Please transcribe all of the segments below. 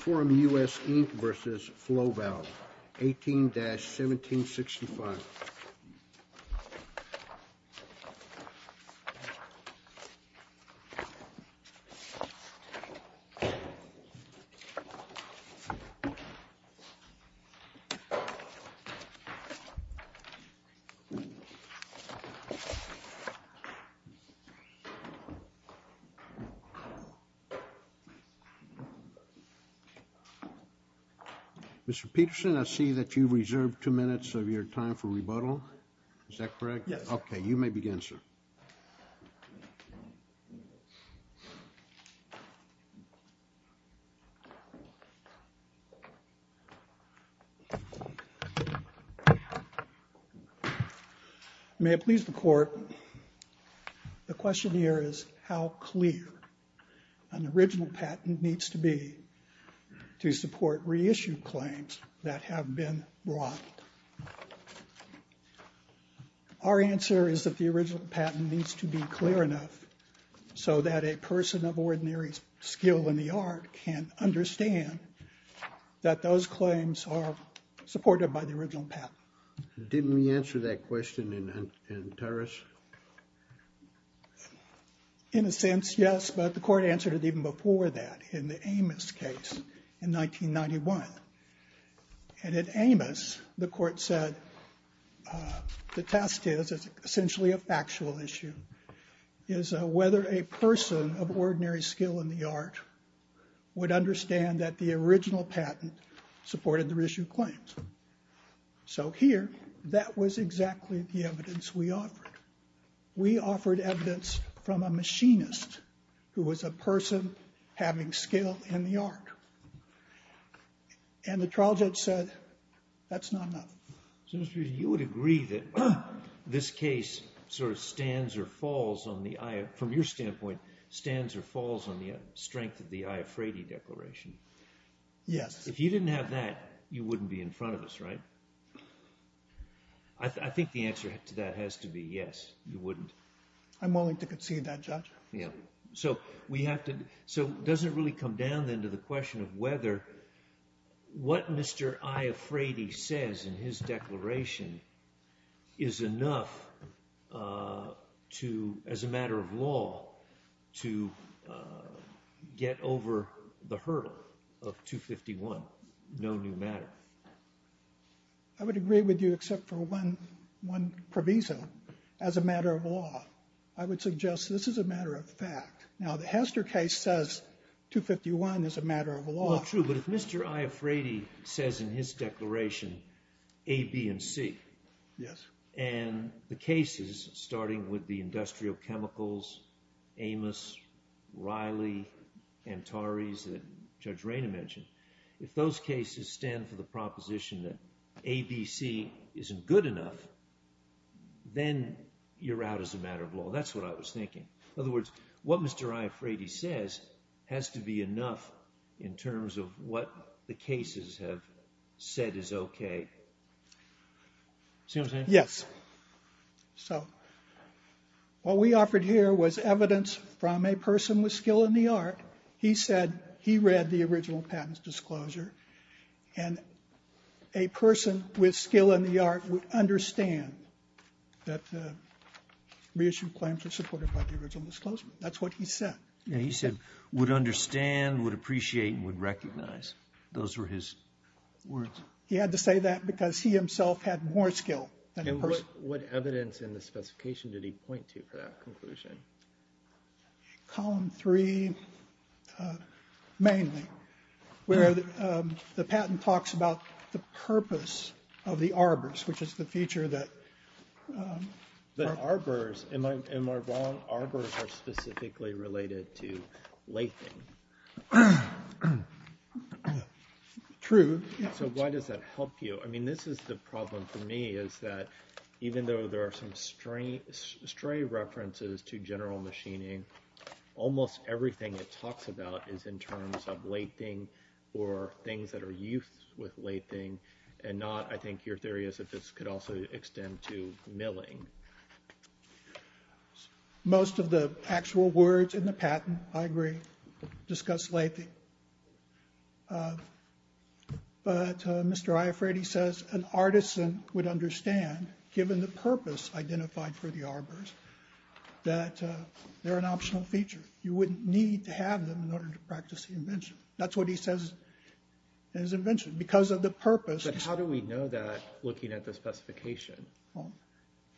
Forum US, Inc. v. Flow Valve, 18-1765 Mr. Peterson, I see that you've reserved two minutes of your time for rebuttal. Is that correct? Yes. You may begin, sir. May it please the Court, the question here is how clear an original patent needs to be to support reissued claims that have been brought. Our answer is that the original patent needs to be clear enough so that a person of ordinary skill in the art can understand that those claims are supported by the original patent. Didn't we answer that question in Tarras? In a sense, yes, but the Court answered it even before that in the Amos case in 1991. And in Amos, the Court said the test is essentially a factual issue, is whether a person of ordinary skill in the art would understand that the original patent supported the reissued claims. So here, that was exactly the evidence we offered. We offered evidence from a machinist who was a person having skill in the art. And the trial judge said, that's not enough. So Mr. Peterson, you would agree that this case sort of stands or falls on the, from your standpoint, stands or falls on the strength of the I. F. Frady Declaration? Yes. If you didn't have that, you wouldn't be in front of us, right? I think the answer to that has to be yes, you wouldn't. I'm willing to concede that, Judge. Yeah. So we have to, so does it really come down then to the question of whether what Mr. I. F. Frady says in his declaration is enough to, as a matter of law, to get over the hurdle of 251, no new matter? I would agree with you, except for one proviso, as a matter of law. I would suggest this is a matter of fact. Now, the Hester case says 251 is a matter of law. Well, true, but if Mr. I. F. Frady says in his declaration A, B, and C, and the cases, starting with the industrial chemicals, Amos, Riley, Antares that Judge Rayna mentioned, if those cases stand for the proposition that A, B, C isn't good enough, then you're out as a matter of law. That's what I was thinking. In other words, what Mr. I. F. Frady says has to be enough in terms of what the cases have said is okay. See what I'm saying? Yes. So, what we offered here was evidence from a person with skill in the art. He said he read the original patent's disclosure, and a person with skill in the art would understand that the reissued claims were supported by the original disclosure. That's what he said. Yeah, he said would understand, would appreciate, and would recognize. Those were his words. He had to say that because he himself had more skill than the person. What evidence in the specification did he point to for that conclusion? Column three, mainly, where the patent talks about the purpose of the arbors, which is the feature that... The arbors, in Marblon, arbors are specifically related to lathing. True. So, why does that help you? I mean, this is the problem for me, is that even though there are some stray references to general machining, almost everything it talks about is in terms of lathing, or things that are used with lathing, and not, I think your theory is that this could also extend to milling. Most of the actual words in the patent, I agree, discuss lathing. But Mr. Iafretti says an artisan would understand, given the purpose identified for the arbors, that they're an optional feature. You wouldn't need to have them in order to practice the invention. That's what he says in his invention. Because of the purpose... But how do we know that, looking at the specification? Well,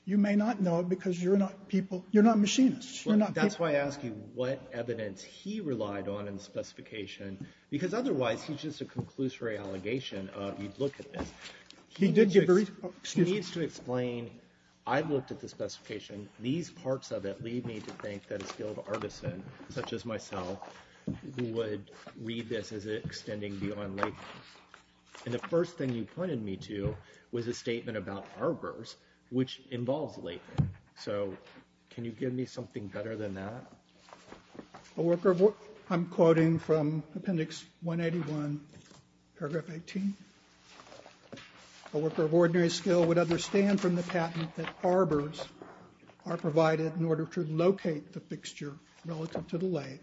you may not know, because you're not people... You're not machinists. That's why I ask you what evidence he relied on in the specification. Because otherwise, he's just a conclusory allegation of, you'd look at this. He did give a... He needs to explain, I've looked at the specification, these parts of it lead me to think that a skilled artisan, such as myself, would read this as extending beyond lathing. And the first thing you pointed me to was a statement about arbors, which involves lathing. So, can you give me something better than that? A worker of... I'm quoting from Appendix 181, Paragraph 18. A worker of ordinary skill would understand from the patent that arbors are provided in order to locate the fixture relative to the lathe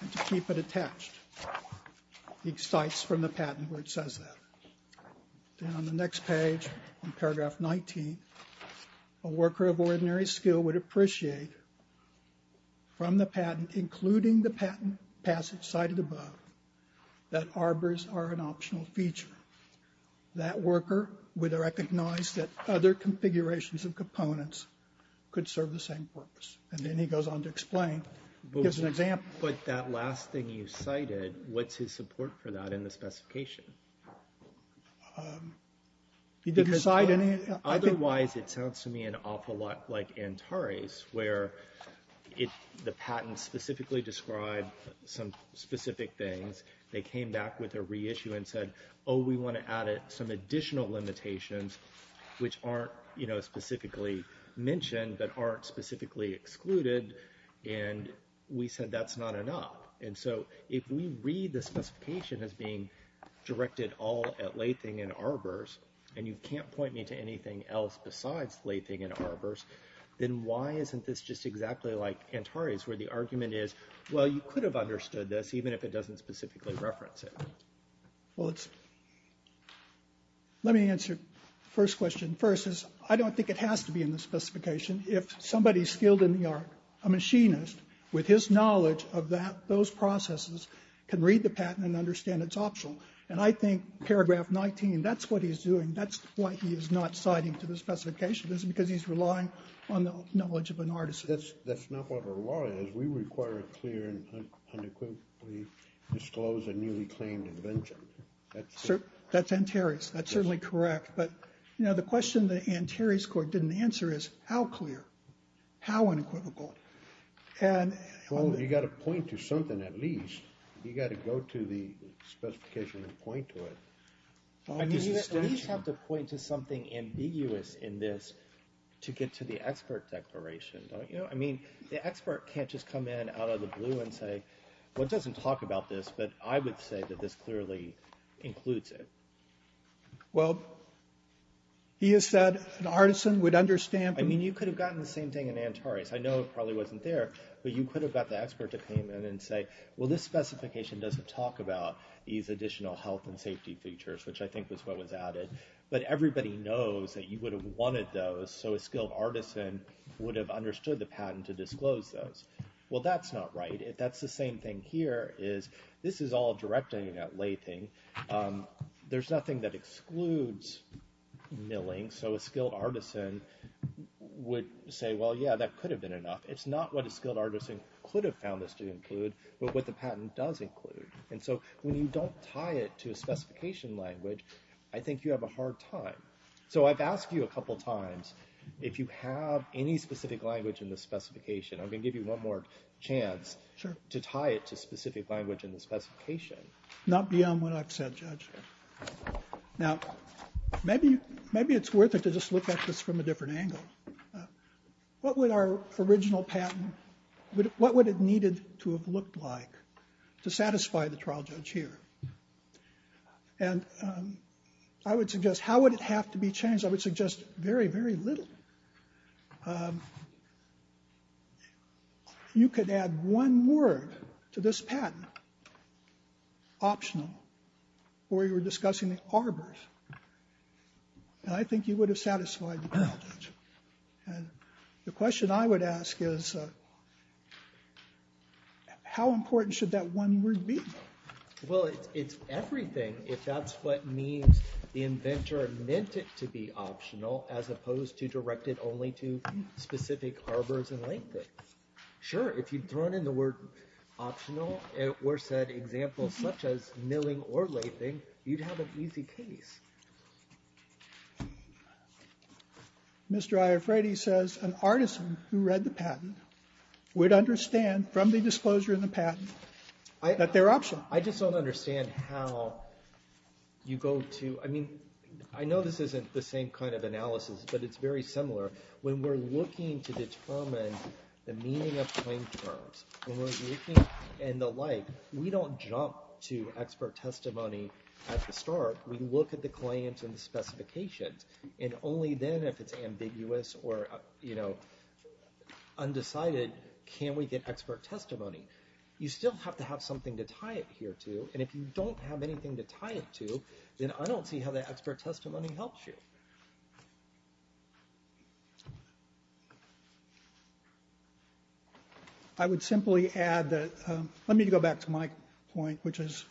and to keep it attached. He cites from the patent where it says that. Then on the next page, in Paragraph 19, a worker of ordinary skill would appreciate from the patent, including the patent passage cited above, that arbors are an optional feature. That worker would recognize that other configurations of components could serve the same purpose. And then he goes on to explain, gives an example. But that last thing you cited, what's his support for that in the specification? Did you cite any... Otherwise, it sounds to me an awful lot like Antares, where the patent specifically described some specific things. They came back with a reissue and said, oh, we want to add some additional limitations, which aren't specifically mentioned, but aren't specifically excluded. And we said, that's not enough. And so if we read the specification as being directed all at lathing and arbors, and you can't point me to anything else besides lathing and arbors, then why isn't this just exactly like Antares, where the argument is, well, you could have understood this, even if it doesn't specifically reference it. Well, let me answer the first question. I don't think it has to be in the specification. If somebody skilled in the art, a machinist, with his knowledge of those processes, can read the patent and understand it's optional. And I think paragraph 19, that's what he's doing. That's why he is not citing to the specification. That's because he's relying on the knowledge of an artist. That's not what our law is. We require a clear and unequivocally disclosed and newly claimed invention. That's Antares. That's certainly correct. But the question that Antares court didn't answer is, how clear? How unequivocal? And- Well, you got to point to something at least. You got to go to the specification and point to it. I mean, you at least have to point to something ambiguous in this to get to the expert declaration, don't you? I mean, the expert can't just come in out of the blue and say, well, it doesn't talk about this, but I would say that this clearly includes it. Well, he has said an artisan would understand- I mean, you could have gotten the same thing in Antares. I know it probably wasn't there, but you could have got the expert to come in and say, well, this specification doesn't talk about these additional health and safety features, which I think was what was added. But everybody knows that you would have wanted those, so a skilled artisan would have understood the patent to disclose those. Well, that's not right. That's the same thing here is, this is all directing at Lathing. There's nothing that excludes milling, so a skilled artisan would say, well, yeah, that could have been enough. It's not what a skilled artisan could have found this to include, but what the patent does include. And so when you don't tie it to a specification language, I think you have a hard time. So I've asked you a couple times, if you have any specific language in the specification, Not beyond what I've said, Judge. Now, maybe it's worth it to just look at this from a different angle. What would our original patent, what would it needed to have looked like to satisfy the trial judge here? And I would suggest, how would it have to be changed? I would suggest very, very little. You could add one word to this patent, optional, where you were discussing the arbors. And I think you would have satisfied the trial judge. And the question I would ask is, how important should that one word be? Well, it's everything if that's what means the inventor meant it to be optional, as opposed to direct it only to specific arbors and lathing. Sure, if you'd thrown in the word optional, or said examples such as milling or lathing, you'd have an easy case. Mr. Iafretti says, an artisan who read the patent would understand from the disclosure in the patent that they're optional. I just don't understand how you go to, I mean, I know this isn't the same kind of analysis, but it's very similar. When we're looking to determine the meaning of claim terms, when we're looking in the light, we don't jump to expert testimony at the start. We look at the claims and the specifications. And only then, if it's ambiguous or undecided, can we get expert testimony. You still have to have something to tie it here to. And if you don't have anything to tie it to, then I don't see how the expert testimony helps you. I would simply add that, let me go back to my point, which is,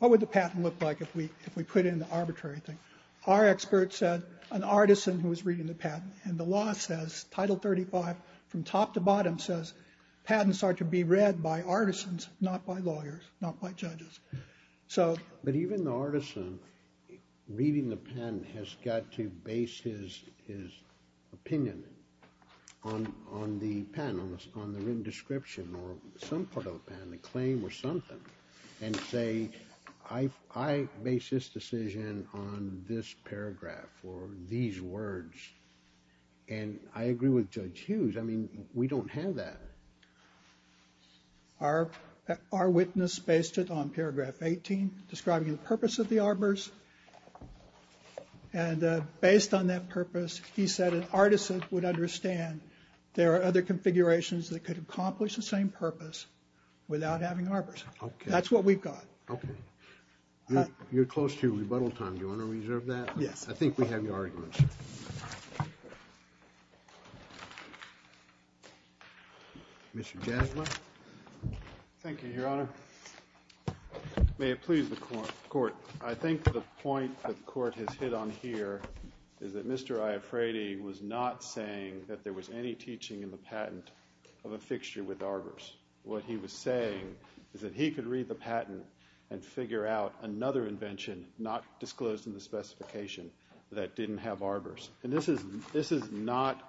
what would the patent look like if we put in the arbitrary thing? Our expert said, an artisan who was reading the patent. And the law says, Title 35, from top to bottom says, patents are to be read by artisans, not by lawyers, not by judges. So. But even the artisan reading the patent has got to base his opinion on the patent, on the written description, or some part of the patent, a claim or something, and say, I base this decision on this paragraph, or these words. And I agree with Judge Hughes. I mean, we don't have that. Our witness based it on paragraph 18, describing the purpose of the arbors. And based on that purpose, he said an artisan would understand there are other configurations that could accomplish the same purpose. Without having arbors. Okay. That's what we've got. Okay. You're close to rebuttal time. Do you want to reserve that? Yes. I think we have your arguments. Mr. Jasmine. Thank you, Your Honor. May it please the court. I think the point that the court has hit on here is that Mr. Iafrati was not saying that there was any teaching in the patent of a fixture with arbors. What he was saying is that he could read the patent and figure out another invention, not disclosed in the specification, that didn't have arbors. And this is not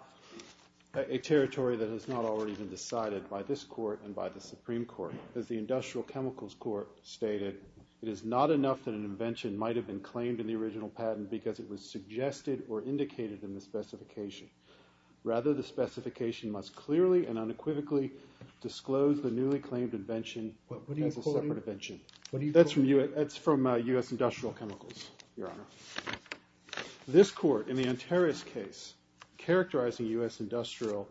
a territory that has not already been decided by this court and by the Supreme Court, as the Industrial Chemicals Court stated. It is not enough that an invention might have been claimed in the original patent because it was suggested or indicated in the specification. Rather, the specification must clearly and unequivocally disclose the newly claimed invention as a separate invention. This court, in the Antares case, characterizing U.S. Industrial,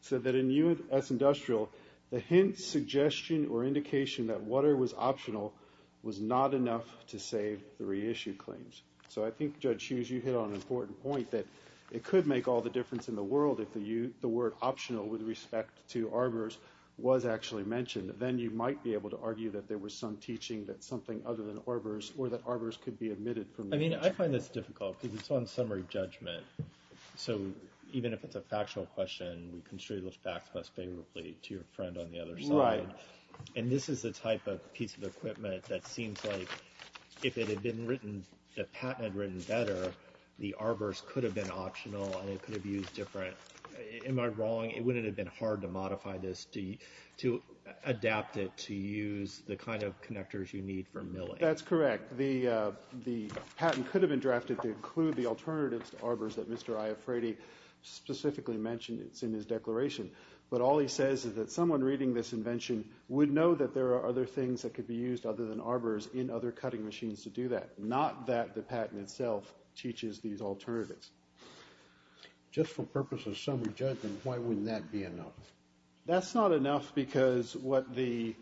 said that in U.S. Industrial, the hint, suggestion, or indication that water was optional was not enough to save the reissued claims. So I think, Judge Hughes, you hit on an important point that it could make all the difference in the world if the word optional with respect to arbors was actually mentioned. Then you might be able to argue that there was some teaching that something other than arbors, or that arbors could be omitted from the invention. I mean, I find this difficult because it's on summary judgment. So, even if it's a factual question, we can show you those facts most favorably to your friend on the other side. And this is the type of piece of equipment that seems like if it had been written, the patent had written better, the arbors could have been optional and it could have used different, am I wrong, it wouldn't have been hard to modify this, to adapt it to use the kind of connectors you need for milling. That's correct. The patent could have been drafted to include the alternatives to arbors that Mr. Iafretti specifically mentioned. It's in his declaration. But all he says is that someone reading this invention would know that there are other things that could be used other than arbors in other cutting machines to do that, not that the patent itself teaches these alternatives. Just for purposes of summary judgment, why wouldn't that be enough? That's not enough because what the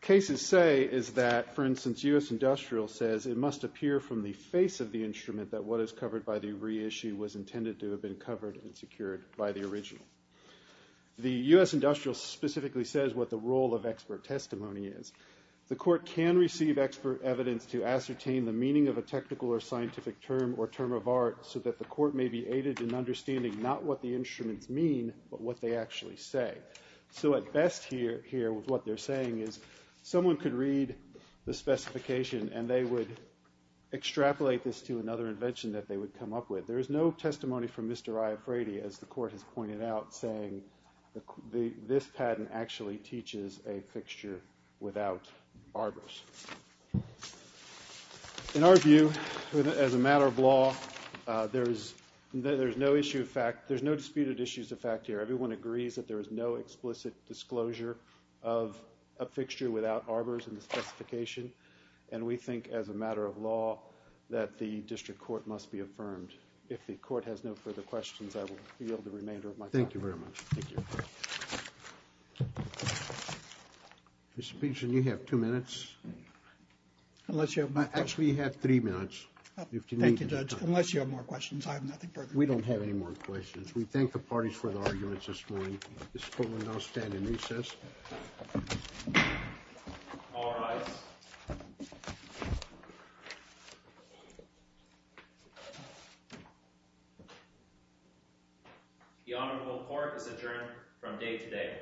cases say is that, for instance, U.S. Industrial says it must appear from the face of the instrument that what is covered by the reissue was intended to have been covered and secured by the original. The U.S. Industrial specifically says what the role of expert testimony is. The court can receive expert evidence to ascertain the meaning of a technical or scientific term or term of art so that the court may be aided in understanding not what the instruments mean, but what they actually say. So at best here, what they're saying is someone could read the specification and they would extrapolate this to another invention that they would come up with. There is no testimony from Mr. Iafretti, as the court has pointed out, saying this patent actually teaches a fixture without arbors. In our view, as a matter of law, there's no disputed issues of fact here. Everyone agrees that there is no explicit disclosure of a fixture without arbors in the specification, and we think as a matter of law that the district court must be affirmed. If the court has no further questions, I will yield the remainder of my time. Thank you very much. Thank you. Mr. Peterson, you have two minutes. Unless you have my- Actually, you have three minutes. Thank you, Judge. Unless you have more questions, I have nothing further to say. We don't have any more questions. We thank the parties for their arguments this morning. This court will now stand in recess. All rise. The honorable court is adjourned from day today.